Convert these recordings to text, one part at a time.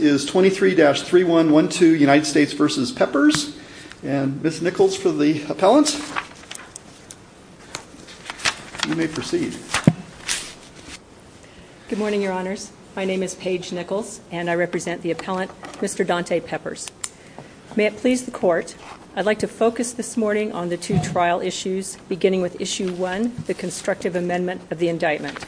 is 23-312 United States v. Peppers. And Ms. Nichols for the appellant. You may proceed. Good morning, your honors. My name is Paige Nichols and I represent the appellant, Mr. Dante Peppers. May it please the court, I'd like to focus this morning on the two trial issues beginning with issue one, the constructive amendment of the indictment.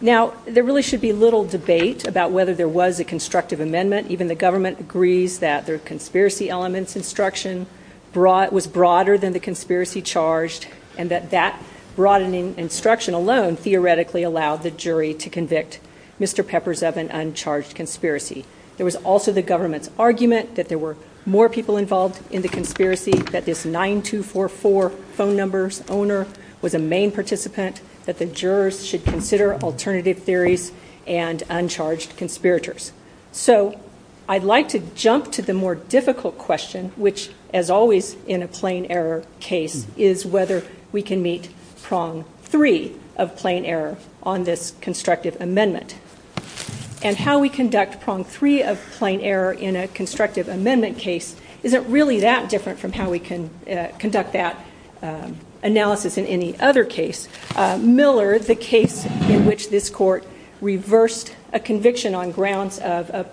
Now, there really should be little debate about whether there was a constructive amendment. Even the government agrees that their conspiracy elements instruction was broader than the conspiracy charged and that that broadening instruction alone theoretically allowed the jury to convict Mr. Peppers of an uncharged conspiracy. There was also the government's argument that there were more people involved in the conspiracy, that this 9244 phone number's owner was a main participant, the jurors should consider alternative theories and uncharged conspirators. So I'd like to jump to the more difficult question, which as always in a plain error case, is whether we can meet prong three of plain error on this constructive amendment. And how we conduct prong three of plain error in a constructive amendment case isn't really that different from how we can conduct that analysis in any other case. Miller, the case in which this court reversed a conviction on grounds of a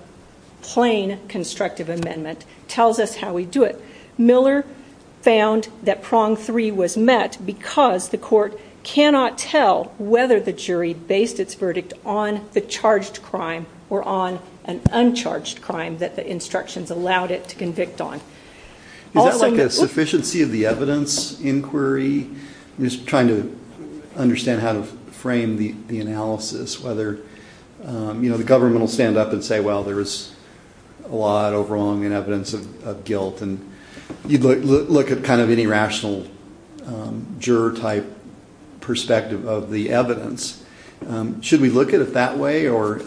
plain constructive amendment, tells us how we do it. Miller found that prong three was met because the court cannot tell whether the jury based its verdict on the charged crime or on an uncharged crime that the instructions allowed it to convict on. Is that like a sufficiency of the evidence inquiry? Just trying to understand how to frame the analysis, whether, you know, the government will stand up and say, well, there is a lot of wrong and evidence of guilt, and you'd look at kind of any rational juror type perspective of the evidence. Should we look at it that way or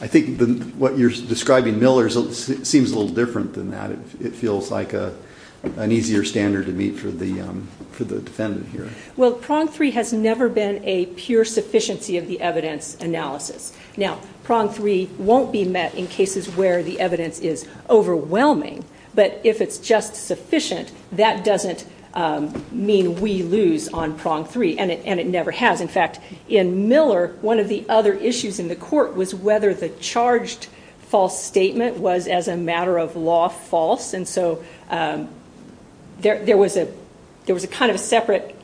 I think what you're describing, Miller, seems a little different than that. It feels like an easier standard to meet for the defendant here. Well, prong three has never been a pure sufficiency of the evidence analysis. Now, prong three won't be met in cases where the evidence is overwhelming, but if it's just sufficient, that doesn't mean we lose on prong three, and it never has. In fact, in Miller, one of the other issues in the court was whether the charged false statement was, as a matter of law, false. And so there was a kind of separate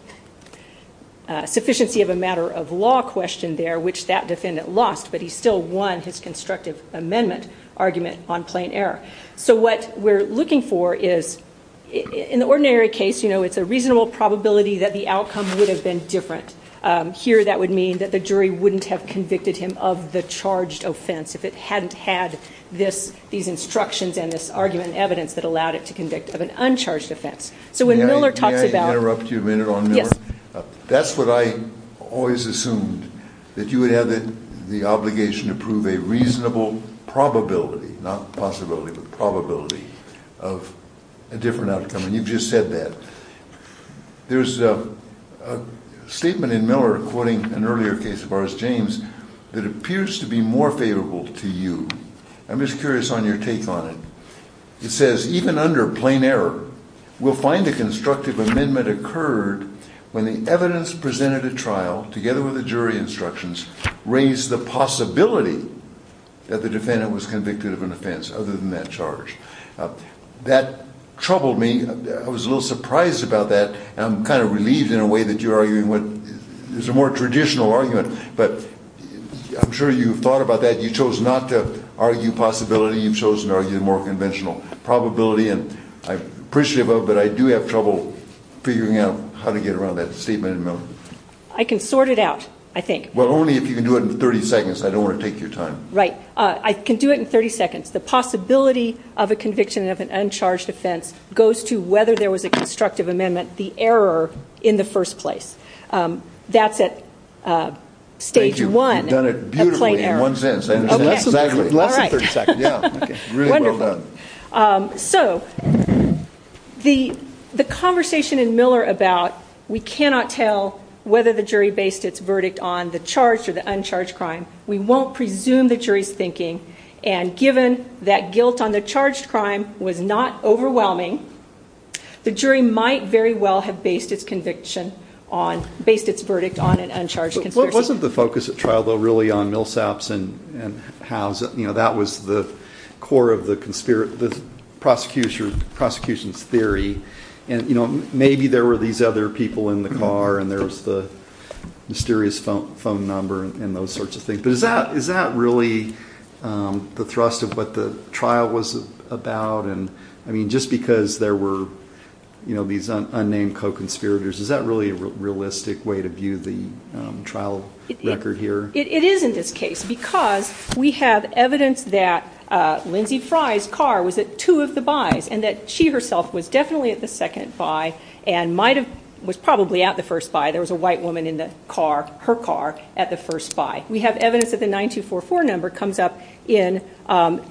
sufficiency of a matter of law question there, which that defendant lost, but he still won his constructive amendment argument on plain error. So what we're looking for is, in the ordinary case, it's a reasonable probability that the outcome would have been different. Here that would mean that the jury wouldn't have convicted him of the charged offense if it hadn't had these instructions and this argument and evidence that allowed it to convict of an uncharged offense. So when Miller talks about... May I interrupt you a minute on Miller? Yes. That's what I always assumed, that you would have the obligation to prove a reasonable probability, not possibility, but probability of a different outcome, and you've just said that. There's a statement in Miller quoting an earlier case of ours, James, that appears to be more favorable to you. I'm just curious on your take on it. It says, even under plain error, we'll find the constructive amendment occurred when the evidence presented at trial, together with the jury instructions, raised the possibility that the defendant was convicted of an offense other than that charge. That troubled me. I was a little surprised about that. I'm kind of relieved in a way that you're arguing what is a more traditional argument, but I'm sure you've thought about that. You chose not to argue possibility. You've chosen to argue the more conventional probability, and I appreciate that, but I do have trouble figuring out how to get around that statement in Miller. I can sort it out, I think. Well, only if you can do it in 30 seconds. I don't want to take your time. Right. I can do it in 30 seconds. The possibility of a conviction of an uncharged offense goes to whether there was a constructive amendment, the error in the first place. That's at stage one of plain error. Thank you. You've done it beautifully in one sentence. Less than 30 seconds. Wonderful. So, the conversation in Miller about we cannot tell whether the jury based its verdict on the charged or the uncharged crime. We won't presume the jury's thinking, and given that guilt on the charged crime was not overwhelming, the jury might very well have based its verdict on an uncharged conspiracy. It wasn't the focus of trial, though, really, on Millsaps and Howes. That was the core of the prosecution's theory, and maybe there were these other people in the car and there was the mysterious phone number and those sorts of things, but is that really the thrust of what the trial was about? I mean, just because there were these unnamed co-conspirators, is that really a realistic way to view the trial record here? It is in this case because we have evidence that Lindsey Fry's car was at two of the bys and that she herself was definitely at the second by and was probably at the first by. There was a white woman in her car at the first by. We have evidence that the 9244 number comes up in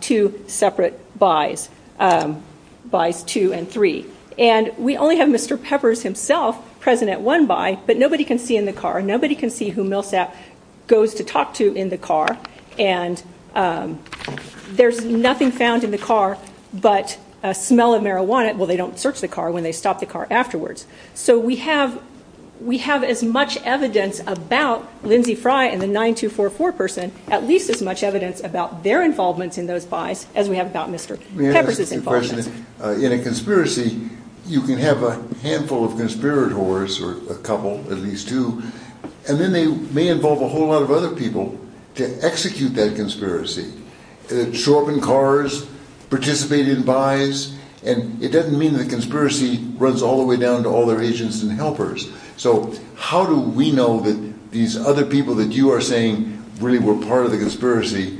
two separate bys, bys two and three, and we only have Mr. Peppers himself present at one by, but nobody can see in the car. Nobody can see who Millsap goes to talk to in the car, and there's nothing found in the car but a smell of marijuana. Well, they don't search the car when they stop the car afterwards. So we have as much evidence about Lindsey Fry and the 9244 person, at least as much evidence about their involvement in those bys as we have about Mr. Peppers' involvement. In a conspiracy, you can have a handful of conspirators, or a couple, at least two, and then they may involve a whole lot of other people to execute that conspiracy. The Chauvin cars participated in bys, and it doesn't mean the conspiracy runs all the way down to all agents and helpers. So how do we know that these other people that you are saying really were part of the conspiracy,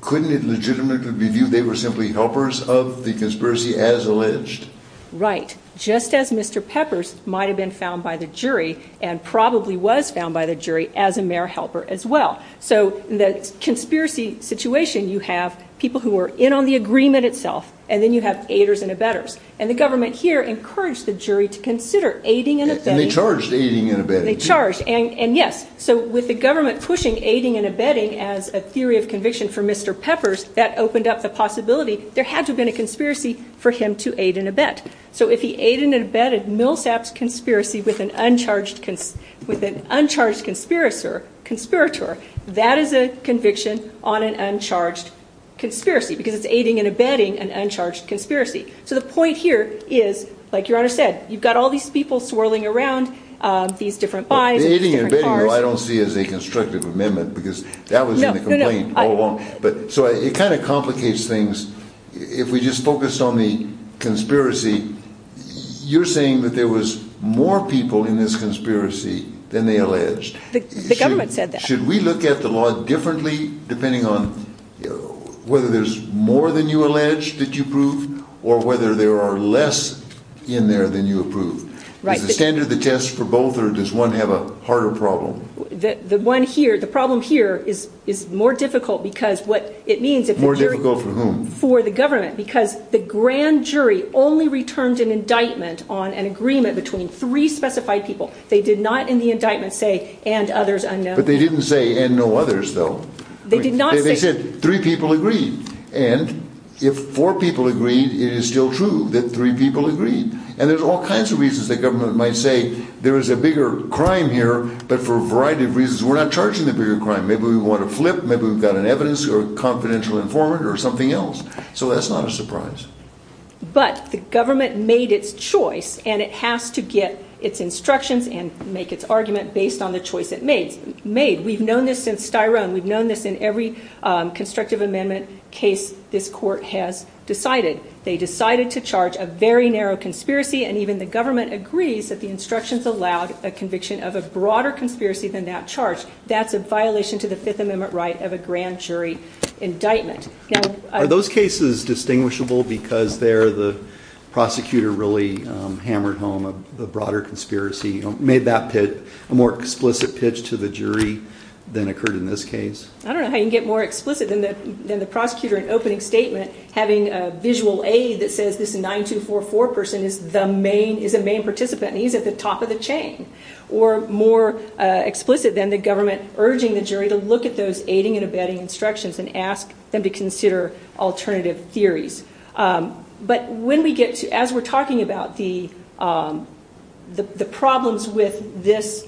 couldn't it legitimately be viewed they were simply helpers of the conspiracy as alleged? Right. Just as Mr. Peppers might have been found by the jury, and probably was found by the jury as a mere helper as well. So in the conspiracy situation, you have people who are in on the agreement itself, and then you have aiders and abettors. And the government here encouraged the jury to consider aiding and abetting. And they charged aiding and abetting. They charged, and yes. So with the government pushing aiding and abetting as a theory of conviction for Mr. Peppers, that opened up the possibility there had to have been a conspiracy for him to aid and abet. So if he aided and abetted Millsap's conspiracy with an uncharged conspirator, that is a conviction on an uncharged conspiracy, because it's aiding and abetting an uncharged conspiracy. So the point here is, like Your Honor said, you've got all these people swirling around, these different buys, these different cars. Aiding and abetting, though, I don't see as a constructive amendment, because that was in the complaint all along. So it kind of complicates things. If we just focused on the conspiracy, you're saying that there was more people in this conspiracy than they alleged. The government said that. Should we look at the law differently, depending on whether there's more than you allege that you prove, or whether there are less in there than you approve? Right. Is the standard the test for both, or does one have a harder problem? The one here, the problem here is more difficult, because what it means if the jury... More difficult for whom? For the government, because the grand jury only returned an indictment on an agreement between three specified people. They did not in the indictment say, and others unknown. But they didn't say, and no others, though. They did not say... They said three people agreed. And if four people agreed, it is still true that three people agreed. And there's all kinds of reasons the government might say there is a bigger crime here, but for a variety of reasons we're not charging the bigger crime. Maybe we want to flip, maybe we've got an evidence or a confidential informant or something else. So that's not a surprise. But the government made its choice, and it has to get its instructions and make its argument based on the choice it made. We've known this since Styrone. We've known this in every constructive amendment case this court has decided. They decided to charge a very narrow conspiracy, and even the government agrees that the instructions allowed a conviction of a broader conspiracy than that charge. That's a violation to the Fifth Amendment right of a grand jury indictment. Are those cases distinguishable because they're the prosecutor really hammered home a broader conspiracy, made that a more explicit pitch to the jury than occurred in this case? I don't know how you can get more explicit than the prosecutor in opening statement having a visual aid that says this 9244 person is the main participant, and he's at the top of the chain. Or more explicit than the government urging the jury to look at those aiding and abetting instructions and ask them to consider alternative theories. But when we get to, as we're talking about the problems with this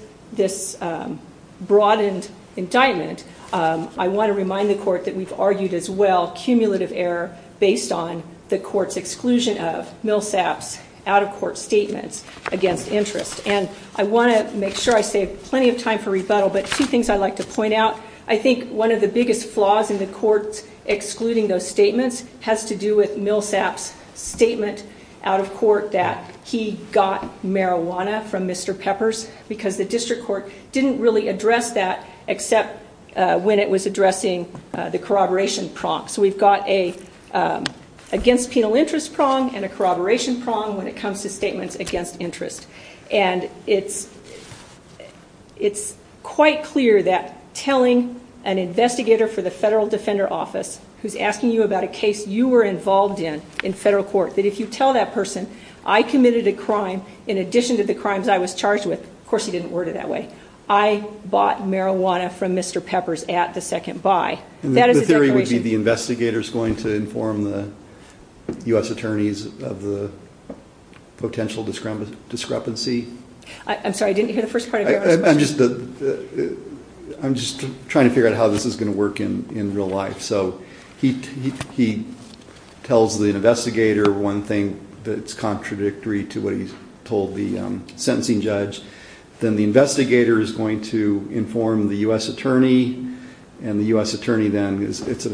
broadened indictment, I want to remind the court that we've argued as well, cumulative error based on the court's exclusion of Millsap's out-of-court statements against interest. And I want to make sure I save plenty of time for rebuttal, but two things I'd like to point out. I think one of the biggest flaws in the court excluding those statements has to do with Millsap's statement out of court that he got marijuana from Mr. Peppers because the district court didn't really address that except when it was addressing the corroboration prong. So we've got a against penal interest prong and a corroboration prong when it comes to statements against interest. And it's quite clear that telling an investigator for the federal defender office who's asking you about a case you were involved in in federal court, that if you tell that person, I committed a crime in addition to the crimes I was charged with, of course he didn't word it that way, I bought marijuana from Mr. Peppers at the second buy. That is a declaration. The theory would be the investigator's going to inform the U.S. attorneys of the potential discrepancy? I'm sorry, I didn't hear the first part of your question. I'm just trying to figure out how this is going to work in real life. So he tells the investigator one thing that's contradictory to what he told the sentencing judge. Then the investigator is going to inform the U.S. attorney and the U.S. attorney then, it's a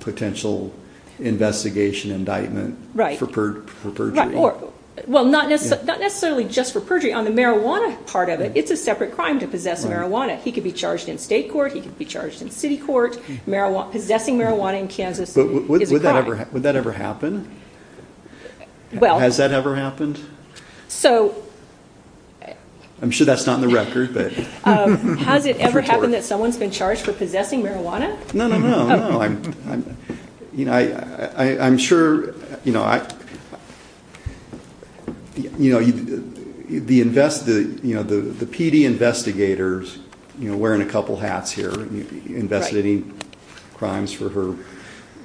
potential investigation indictment for perjury. Not necessarily just for perjury. On the marijuana part of it, it's a separate crime to possess marijuana. He could be charged in state court, he could be charged in city court. Possessing marijuana in Kansas is a crime. Would that ever happen? Has that ever happened? I'm sure that's not in the record. Has it ever happened that someone's been charged for possessing marijuana? No, no, no. I'm sure, you know, the PD investigators are wearing a couple hats here investigating crimes for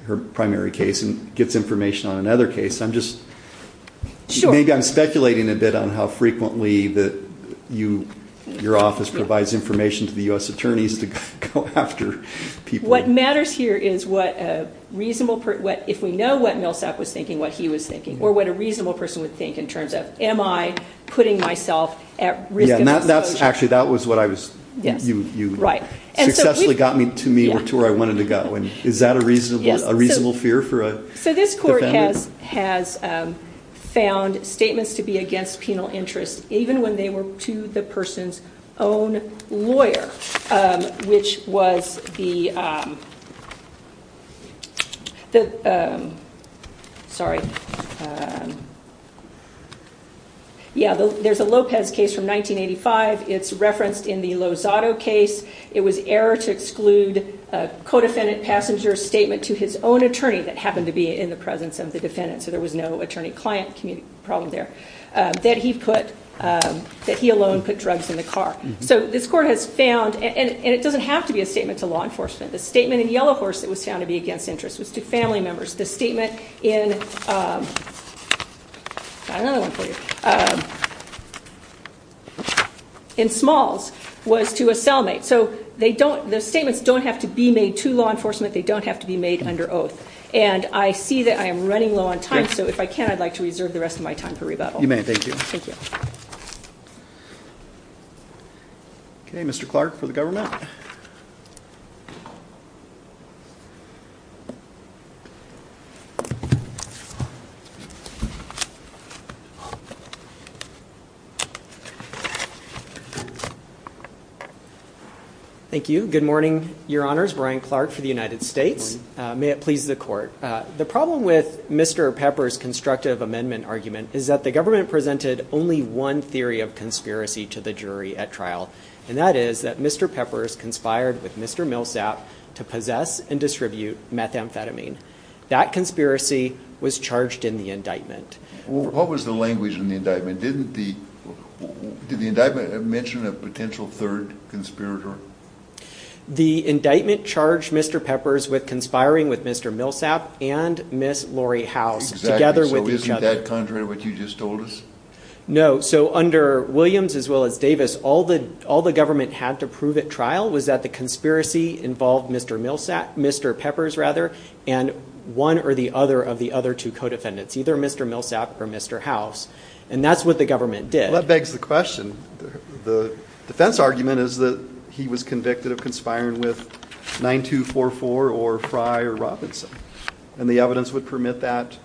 her primary case and gets information on another case. Maybe I'm speculating a bit on how frequently your office provides information to the U.S. attorneys to go after people who are involved in criminal cases. If we know what Millsap was thinking, what he was thinking, or what a reasonable person would think in terms of, am I putting myself at risk of exposure? Actually, that was what you successfully got to me or to where I wanted to go. Is that a reasonable fear for a defendant? This court has found statements to be against penal interest even when they were to the person's own lawyer, which was the, sorry, yeah, there's a Lopez case from 1985. It's referenced in the Lozado case. It was error to exclude a co-defendant passenger's statement to his own attorney that happened to be in the presence of the defendant, so there was no attorney-client problem there, that he put, that he alone put drugs in the car. So this court has found, and it doesn't have to be a statement to law enforcement. The statement in Yellow Horse that was found to be against interest was to family members. The statement in Smalls was to a cellmate. So they don't, the statements don't have to be made to law enforcement. They don't have to be made under oath. And I see that I am running low on time, so if I can, I'd like to reserve the rest of my time for rebuttal. You may. Thank you. Okay, Mr. Clark for the government. Thank you. Good morning, Your Honors. Brian Clark for the United States. May it please the Court. The problem with Mr. Peppers' constructive amendment argument is that the government presented only one theory of conspiracy to the jury at trial, and that is that Mr. Peppers conspired with Mr. Millsap to possess and distribute methamphetamine. That conspiracy was charged in the indictment. What was the language in the indictment? Didn't the, did the indictment mention a potential third conspirator? The indictment charged Mr. Peppers with conspiring with Mr. Millsap and Ms. Lori House, together with each other. Exactly. So isn't that contrary to what you just told us? No. So under Williams as well as Davis, all the government had to prove at trial was that the conspiracy involved Mr. Millsap, Mr. Peppers rather, and one or the other of the other two co-defendants, either Mr. Millsap or Mr. House. And that's what the government did. Well, that begs the question. The defense argument is that he was convicted of conspiring with 9244 or Frye or Robinson, and the evidence would permit that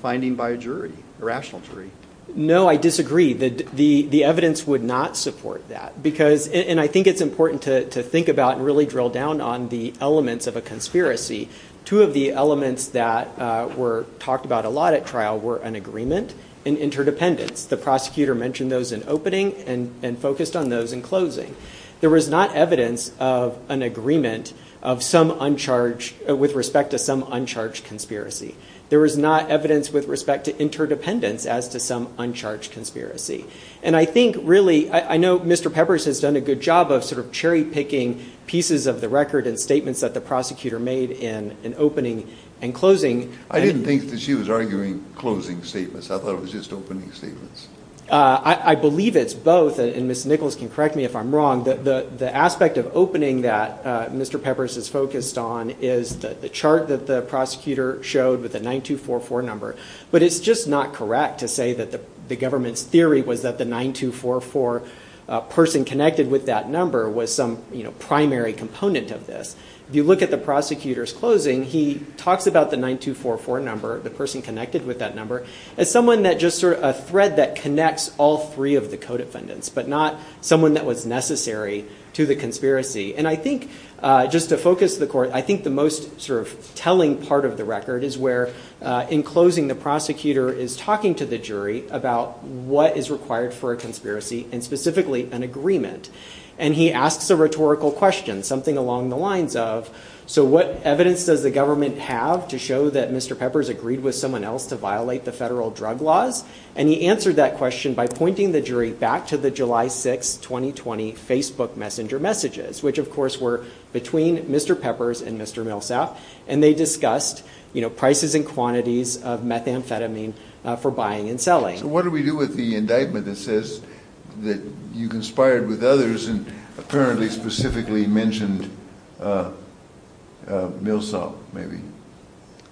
finding by a jury, a rational jury. No, I disagree. The evidence would not support that, because, and I think it's important to think about and really drill down on the elements of a conspiracy. Two of the elements that were talked about a lot at trial were an agreement and interdependence. The prosecutor mentioned those in opening and focused on those in closing. There was not evidence of an agreement with respect to some uncharged conspiracy. There was not evidence with respect to interdependence as to some uncharged conspiracy. And I think really, I know Mr. Peppers has done a good job of sort of cherry picking pieces of the record and statements that the closing... I didn't think that she was arguing closing statements. I thought it was just opening statements. I believe it's both, and Ms. Nichols can correct me if I'm wrong, that the aspect of opening that Mr. Peppers is focused on is the chart that the prosecutor showed with the 9244 number. But it's just not correct to say that the government's theory was that the 9244 person connected with that number was some primary component of this. If you look at the prosecutor's closing, he talks about the 9244 number, the person connected with that number, as someone that just sort of a thread that connects all three of the co-defendants, but not someone that was necessary to the conspiracy. And I think just to focus the court, I think the most sort of telling part of the record is where in closing the prosecutor is talking to the jury about what is required for a conspiracy and specifically an agreement. And he asks a rhetorical question, something along the lines of, so what evidence does the government have to show that Mr. Peppers agreed with someone else to violate the federal drug laws? And he answered that question by pointing the jury back to the July 6th, 2020 Facebook messenger messages, which of course were between Mr. Peppers and Mr. Millsap. And they discussed prices and quantities of methamphetamine for buying and selling. So what do we do with the indictment that says that you conspired with others and apparently specifically mentioned Millsap, maybe?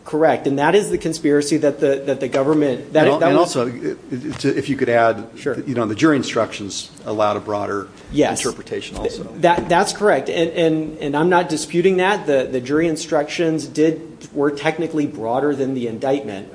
Correct. And that is the conspiracy that the, that the government... And also if you could add, you know, the jury instructions allowed a broader interpretation also. That's correct. And, and, and I'm not disputing that the jury instructions did, were technically broader than the indictment,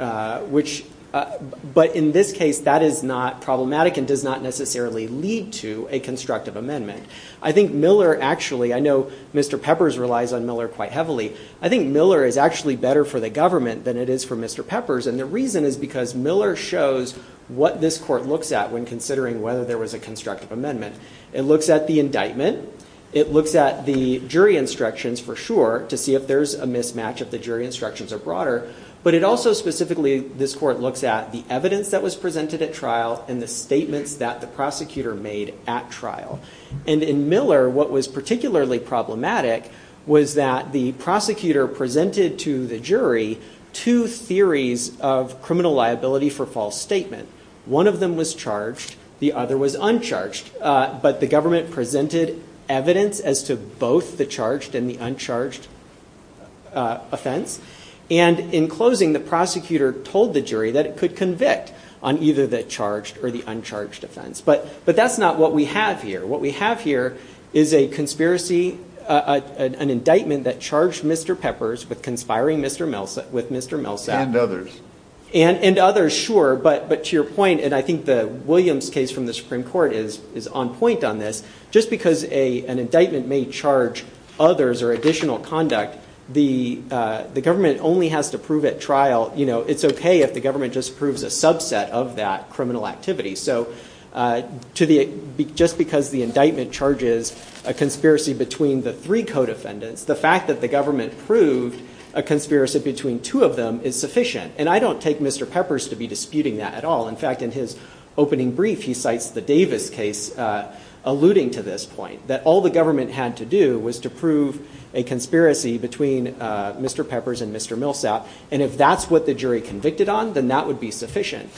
which, but in this case that is not problematic and does not necessarily lead to a constructive amendment. I think Miller actually, I know Mr. Peppers relies on Miller quite heavily. I think Miller is actually better for the government than it is for Mr. Peppers. And the reason is because Miller shows what this court looks at when considering whether there was a constructive amendment. It looks at the indictment. It looks at the jury instructions for sure to see if there's a mismatch of the jury instructions or broader, but it also specifically, this court looks at the evidence that was presented at trial and the statements that the prosecutor made at trial. And in Miller, what was particularly problematic was that the prosecutor presented to the jury two theories of criminal liability for false statement. One of them was charged. The other was uncharged. But the government presented evidence as to both the charged and the uncharged offense. And in closing, the prosecutor told the jury that it could convict on either the charged or the uncharged offense. But, but that's not what we have here. What we have here is a conspiracy, an indictment that charged Mr. Peppers with conspiring with Mr. Millsap. And others. And, and others, sure. But, but to your point, and I think the Williams case from the Supreme Court is, is on point on this, just because a, an indictment may charge others or additional conduct, the, the government only has to prove at trial, you know, it's okay if the government just proves a subset of that criminal activity. So to the, just because the indictment charges a conspiracy between the three co-defendants, the fact that the government proved a conspiracy between two of them is sufficient. And I don't take Mr. Peppers to be disputing that at all. In fact, in his opening brief, he cites the Davis case, uh, alluding to this point that all the government had to do was to prove a conspiracy between, uh, Mr. Peppers and Mr. Millsap. And if that's what the jury convicted on, then that would be sufficient.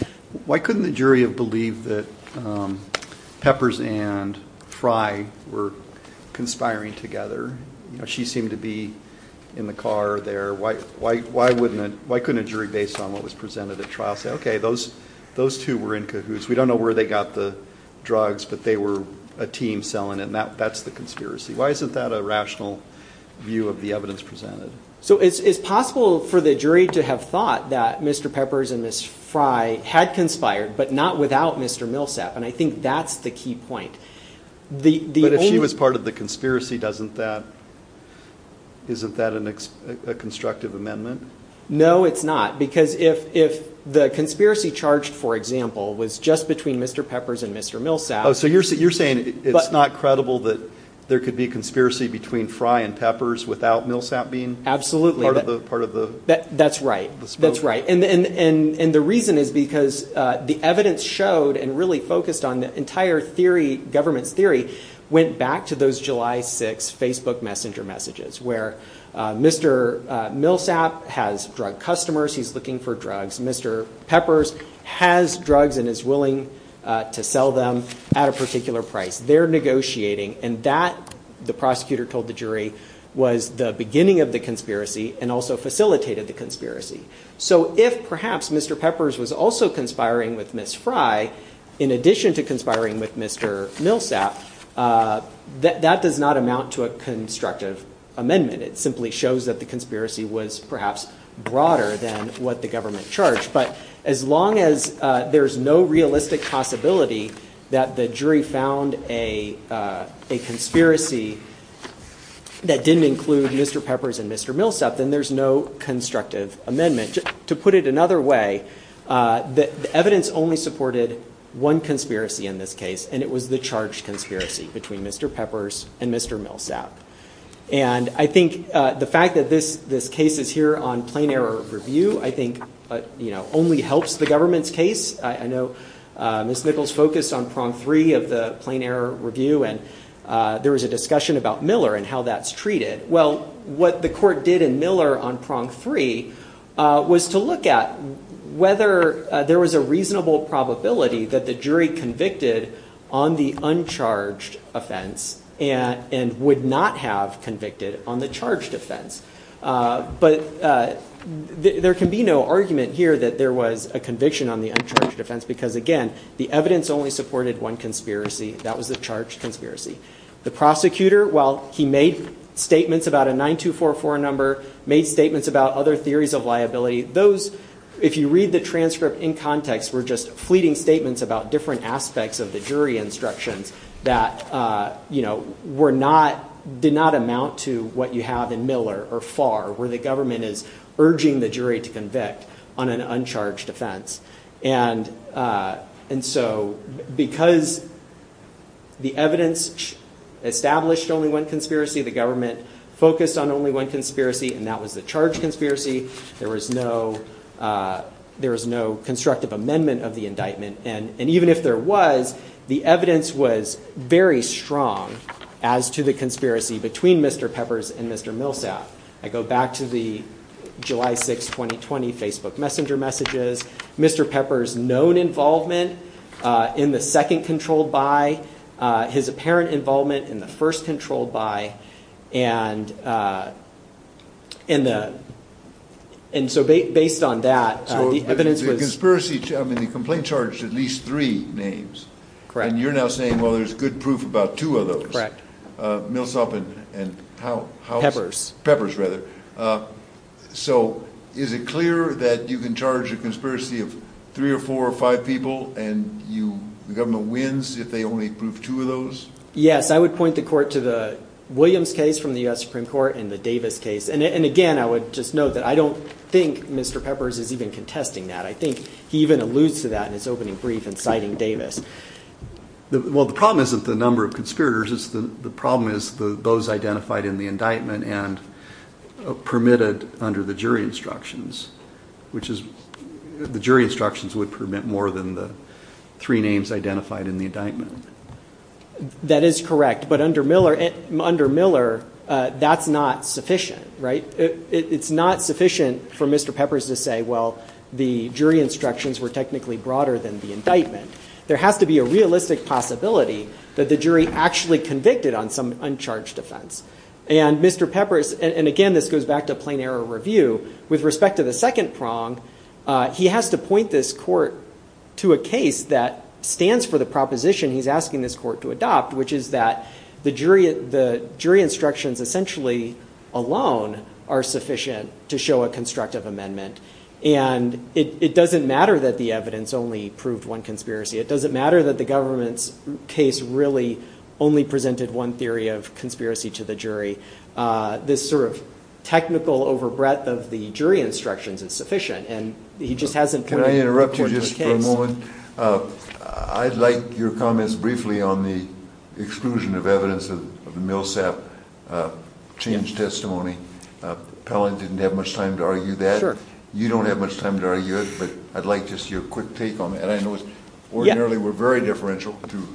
Why couldn't the jury have believed that, um, Peppers and Fry were conspiring together? You know, she seemed to be in the car there. Why, why, why wouldn't it, why couldn't a jury, based on what was presented at trial, say, okay, those, those two were in cahoots. We don't know where they got the drugs, but they were a team selling it. And that, that's the conspiracy. Why isn't that a rational view of the evidence presented? So it's, it's possible for the jury to have thought that Mr. Peppers and Ms. Fry had conspired, but not without Mr. Millsap. And I think that's the key point. The, the only- But if she was part of the conspiracy, doesn't that, isn't that an ex, a constructive amendment? No, it's not. Because if, if the conspiracy charged, for example, was just between Mr. Peppers and Mr. Millsap- Oh, so you're saying, you're saying it's not credible that there could be a conspiracy between Fry and Peppers without Millsap being- Absolutely. Part of the, part of the- That, that's right. That's right. And, and, and, and the reason is because, uh, the evidence showed and really focused on the entire theory, government's theory, went back to those July 6 Facebook messenger messages where, uh, Mr. Millsap has drug customers. He's looking for drugs. Mr. Peppers has drugs and is willing, uh, to sell them at a particular price. They're negotiating and that, the prosecutor told the jury, was the beginning of the conspiracy and also facilitated the conspiracy. So if perhaps Mr. Peppers was also conspiring with Ms. Fry, in addition to conspiring with Mr. Millsap, uh, that, that does not amount to a constructive amendment. It simply shows that the conspiracy was perhaps broader than what the government charged. But as long as, uh, there's no realistic possibility that the jury found a, uh, a conspiracy that didn't include Mr. Peppers and Mr. Millsap, then there's no constructive amendment. To put it another way, uh, that the evidence only supported one conspiracy in this case and it was the charge conspiracy between Mr. Peppers and Mr. Millsap. And I think, uh, the fact that this, this case is here on plain error review, I think, uh, you know, only helps the government's case. I know, uh, Ms. Nichols focused on prong three of the plain error review and, uh, there was a discussion about Miller and how that's treated. Well, what the court did in Miller on prong three, uh, was to look at whether, uh, there was a reasonable probability that the jury convicted on the uncharged offense and, and would not have convicted on the charged offense. Uh, but, uh, there can be no argument here that there was a conviction on the uncharged offense because again, the evidence only supported one conspiracy. That was the charge conspiracy. The prosecutor, while he made statements about a 9244 number, made statements about other theories of liability. Those, if you read the transcript in context, were just fleeting statements about different aspects of the jury instructions that, uh, you know, were not, did not amount to what you have in Miller or FAR where the government is urging the jury to convict on an uncharged offense. And, uh, and so because the evidence, the evidence established only one conspiracy, the government focused on only one conspiracy and that was the charge conspiracy. There was no, uh, there was no constructive amendment of the indictment. And even if there was, the evidence was very strong as to the conspiracy between Mr. Peppers and Mr. Millsap. I go back to the July 6th, 2020 Facebook messenger messages. Mr. Peppers known involvement, uh, in the second controlled by, uh, his apparent involvement in the first controlled by and, uh, in the, and so based on that, uh, the evidence was conspiracy. I mean, the complaint charged at least three names. Correct. And you're now saying, well, there's good proof about two of those, uh, Millsap and, and how, how Peppers, Peppers or four or five people and you, the government wins if they only prove two of those. Yes, I would point the court to the Williams case from the U S Supreme court and the Davis case. And again, I would just note that I don't think Mr. Peppers is even contesting that. I think he even alludes to that in his opening brief and citing Davis. Well, the problem isn't the number of conspirators. It's the problem is the, those identified in the indictment and permitted under the jury instructions, which is the jury instructions would permit more than the three names identified in the indictment. That is correct. But under Miller under Miller, uh, that's not sufficient, right? It's not sufficient for Mr. Peppers to say, well, the jury instructions were technically broader than the indictment. There has to be a realistic possibility that the jury actually convicted on some uncharged offense. And Mr. Peppers, and again, this goes back to plain error review with respect to the second prong. Uh, he has to point this court to a case that stands for the proposition he's asking this court to adopt, which is that the jury, the jury instructions essentially alone are sufficient to show a constructive amendment. And it doesn't matter that the evidence only proved one conspiracy. It doesn't matter that the government's case really only presented one theory of conspiracy to the jury. Uh, this sort of technical overbreadth of the jury instructions is sufficient. And he just hasn't, can I interrupt you just for a moment? Uh, I'd like your comments briefly on the exclusion of evidence of the Millsap change testimony. Uh, Pelling didn't have much time to argue that you don't have much time to argue it, but I'd like just your quick take on it. And I know it's ordinarily, we're very differential to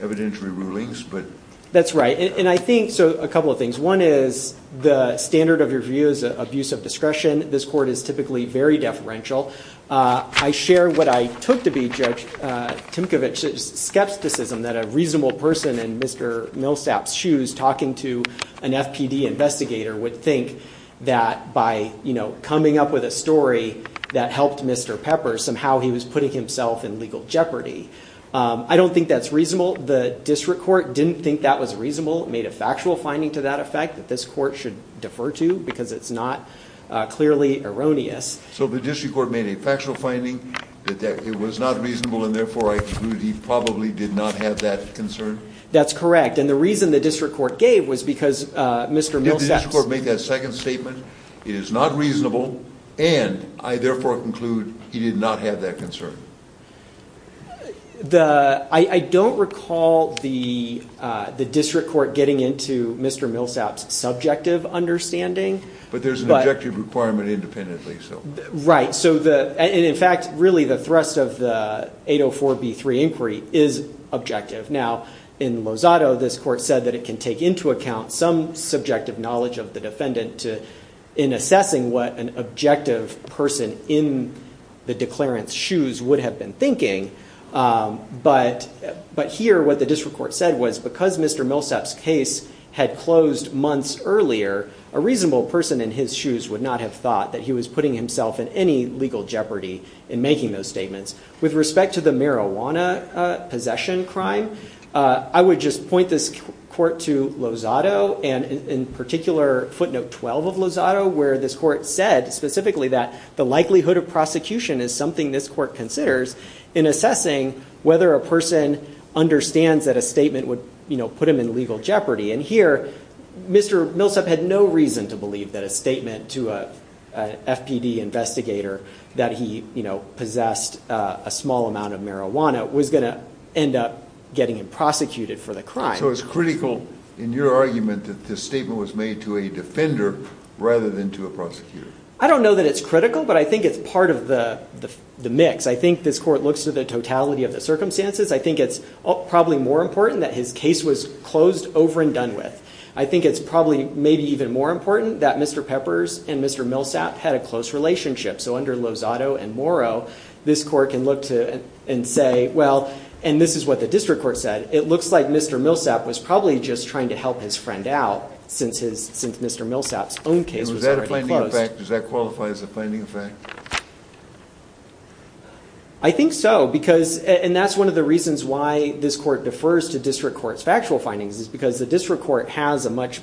evidentiary rulings, but that's right. And I think, so a couple of things, one is the standard of your views, abuse of discretion. This court is typically very deferential. Uh, I share what I took to be judge, uh, Timkovich's skepticism that a reasonable person in Mr. Millsap shoes talking to an FPD investigator would think that by, you know, coming up with a story that helped Mr. Pepper, somehow he was putting himself in legal jeopardy. Um, I don't think that's reasonable. The district court didn't think that was reasonable. It made a factual finding to that effect that this court should defer to because it's not a clearly erroneous. So the district court made a factual finding that that it was not reasonable. And therefore I conclude he probably did not have that concern. That's correct. And the reason the district court gave was because, uh, Mr. Millsap court made that second statement. It is not reasonable. And I therefore conclude he did not have that concern. The, I don't recall the, uh, the district court getting into Mr. Millsap's subjective understanding, but there's an objective requirement independently. So, right. So the, and in fact, really the thrust of the 804 B3 inquiry is objective. Now in Lozado, this court said that it can take into account some subjective knowledge of the defendant to in assessing what an objective person in the declarant's shoes would have been thinking. Um, but, but here what the district court said was because Mr. Millsap's case had closed months earlier, a reasonable person in his shoes would not have thought that he was putting himself in any legal jeopardy in making those statements with respect to the marijuana possession crime. Uh, I would just point this court to Lozado and in particular footnote 12 of Lozado where this court said specifically that the likelihood of prosecution is something this court considers in assessing whether a person understands that a statement would, you know, put him in legal jeopardy. And here, Mr. Millsap had no reason to believe that a statement to a FPD investigator that he, you know, possessed a small amount of marijuana was going to end up getting him prosecuted for the crime. So it was critical in your argument that this statement was made to a defender rather than to a prosecutor. I don't know that it's critical, but I think it's part of the mix. I think this court looks to the totality of the circumstances. I think it's probably more important that his case was closed over and done with. I think it's probably maybe even more important that Mr. Peppers and Mr. Millsap had a close relationship. So under Lozado and Morrow, this court can look to and say, well, and this is what the district court said. It looks like Mr. Millsap was probably just trying to help his friend out since his, since Mr. Millsap's own case was already closed. And was that a finding of fact? Does that qualify as a finding of fact? I think so, because, and that's one of the reasons why this court defers to district court's factual findings is because the district court has a much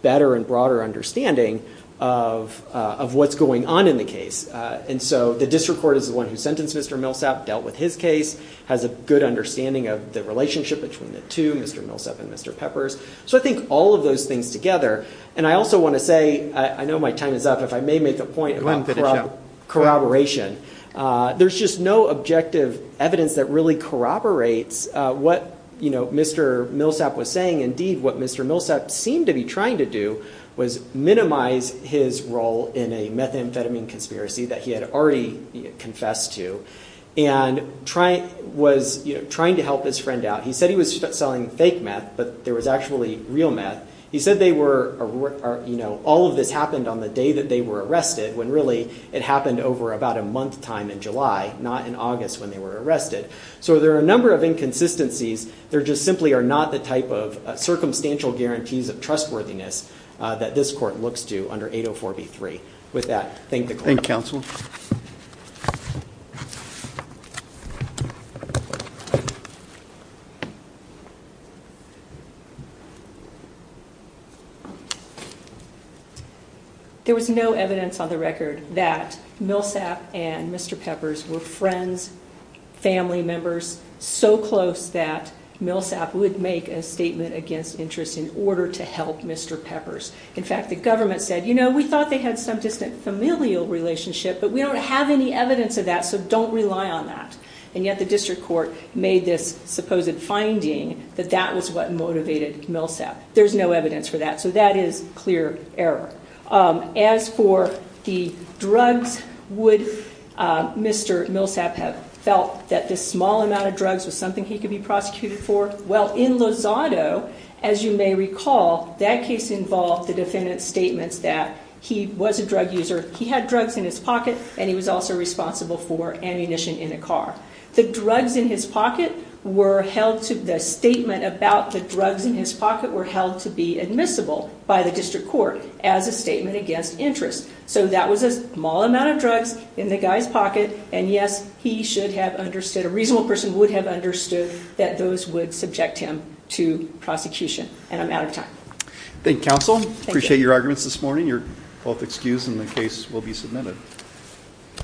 better and broader understanding of what's going on in the case. And so the district court is the one who sentenced Mr. Millsap, dealt with his case, has a good understanding of the relationship between the two, Mr. Millsap and Mr. Peppers. So I think all of those things together, and I also want to say, I know my time is up, if I may make a point about corroboration. There's just no objective evidence that really corroborates what Mr. Millsap was saying. Indeed, what Mr. Millsap seemed to be trying to do was minimize his role in a methamphetamine conspiracy that he had already confessed to and was trying to help his friend out. He said he was selling fake meth, but there was actually real meth. He said they were, you know, all of this happened on the day that they were arrested when really it happened over about a month time in July, not in August when they were arrested. So there are a number of inconsistencies. There just simply are not the type of circumstantial guarantees of trustworthiness that this court looks to under 804B3. With that, thank the court. Thank you, counsel. There was no evidence on the record that Millsap and Mr. Peppers were friends, family members, so close that Millsap would make a statement against interest in order to help Mr. Peppers. In fact, the government said, you know, we thought they had some distant familial relationship, but we don't have any evidence of that, so don't rely on that. And yet the district court made this supposed finding that that was what motivated Millsap. There's no evidence for that, so that is clear error. As for the drugs, would Mr. Millsap have felt that this small amount of drugs was something he could be prosecuted for? Well, in Lozado, as you may recall, that case involved the defendant's statements that he was a drug user, he had drugs in his pocket, and he was also responsible for ammunition in a car. The drugs in his pocket were held to, the statement about the drugs in his pocket were held to be admissible by the district court as a statement against interest. So that was a small amount of drugs in the guy's pocket, and yes, he should have understood, a reasonable person would have Thank you, Council. Appreciate your arguments this morning. You're both excused, and the case will be submitted.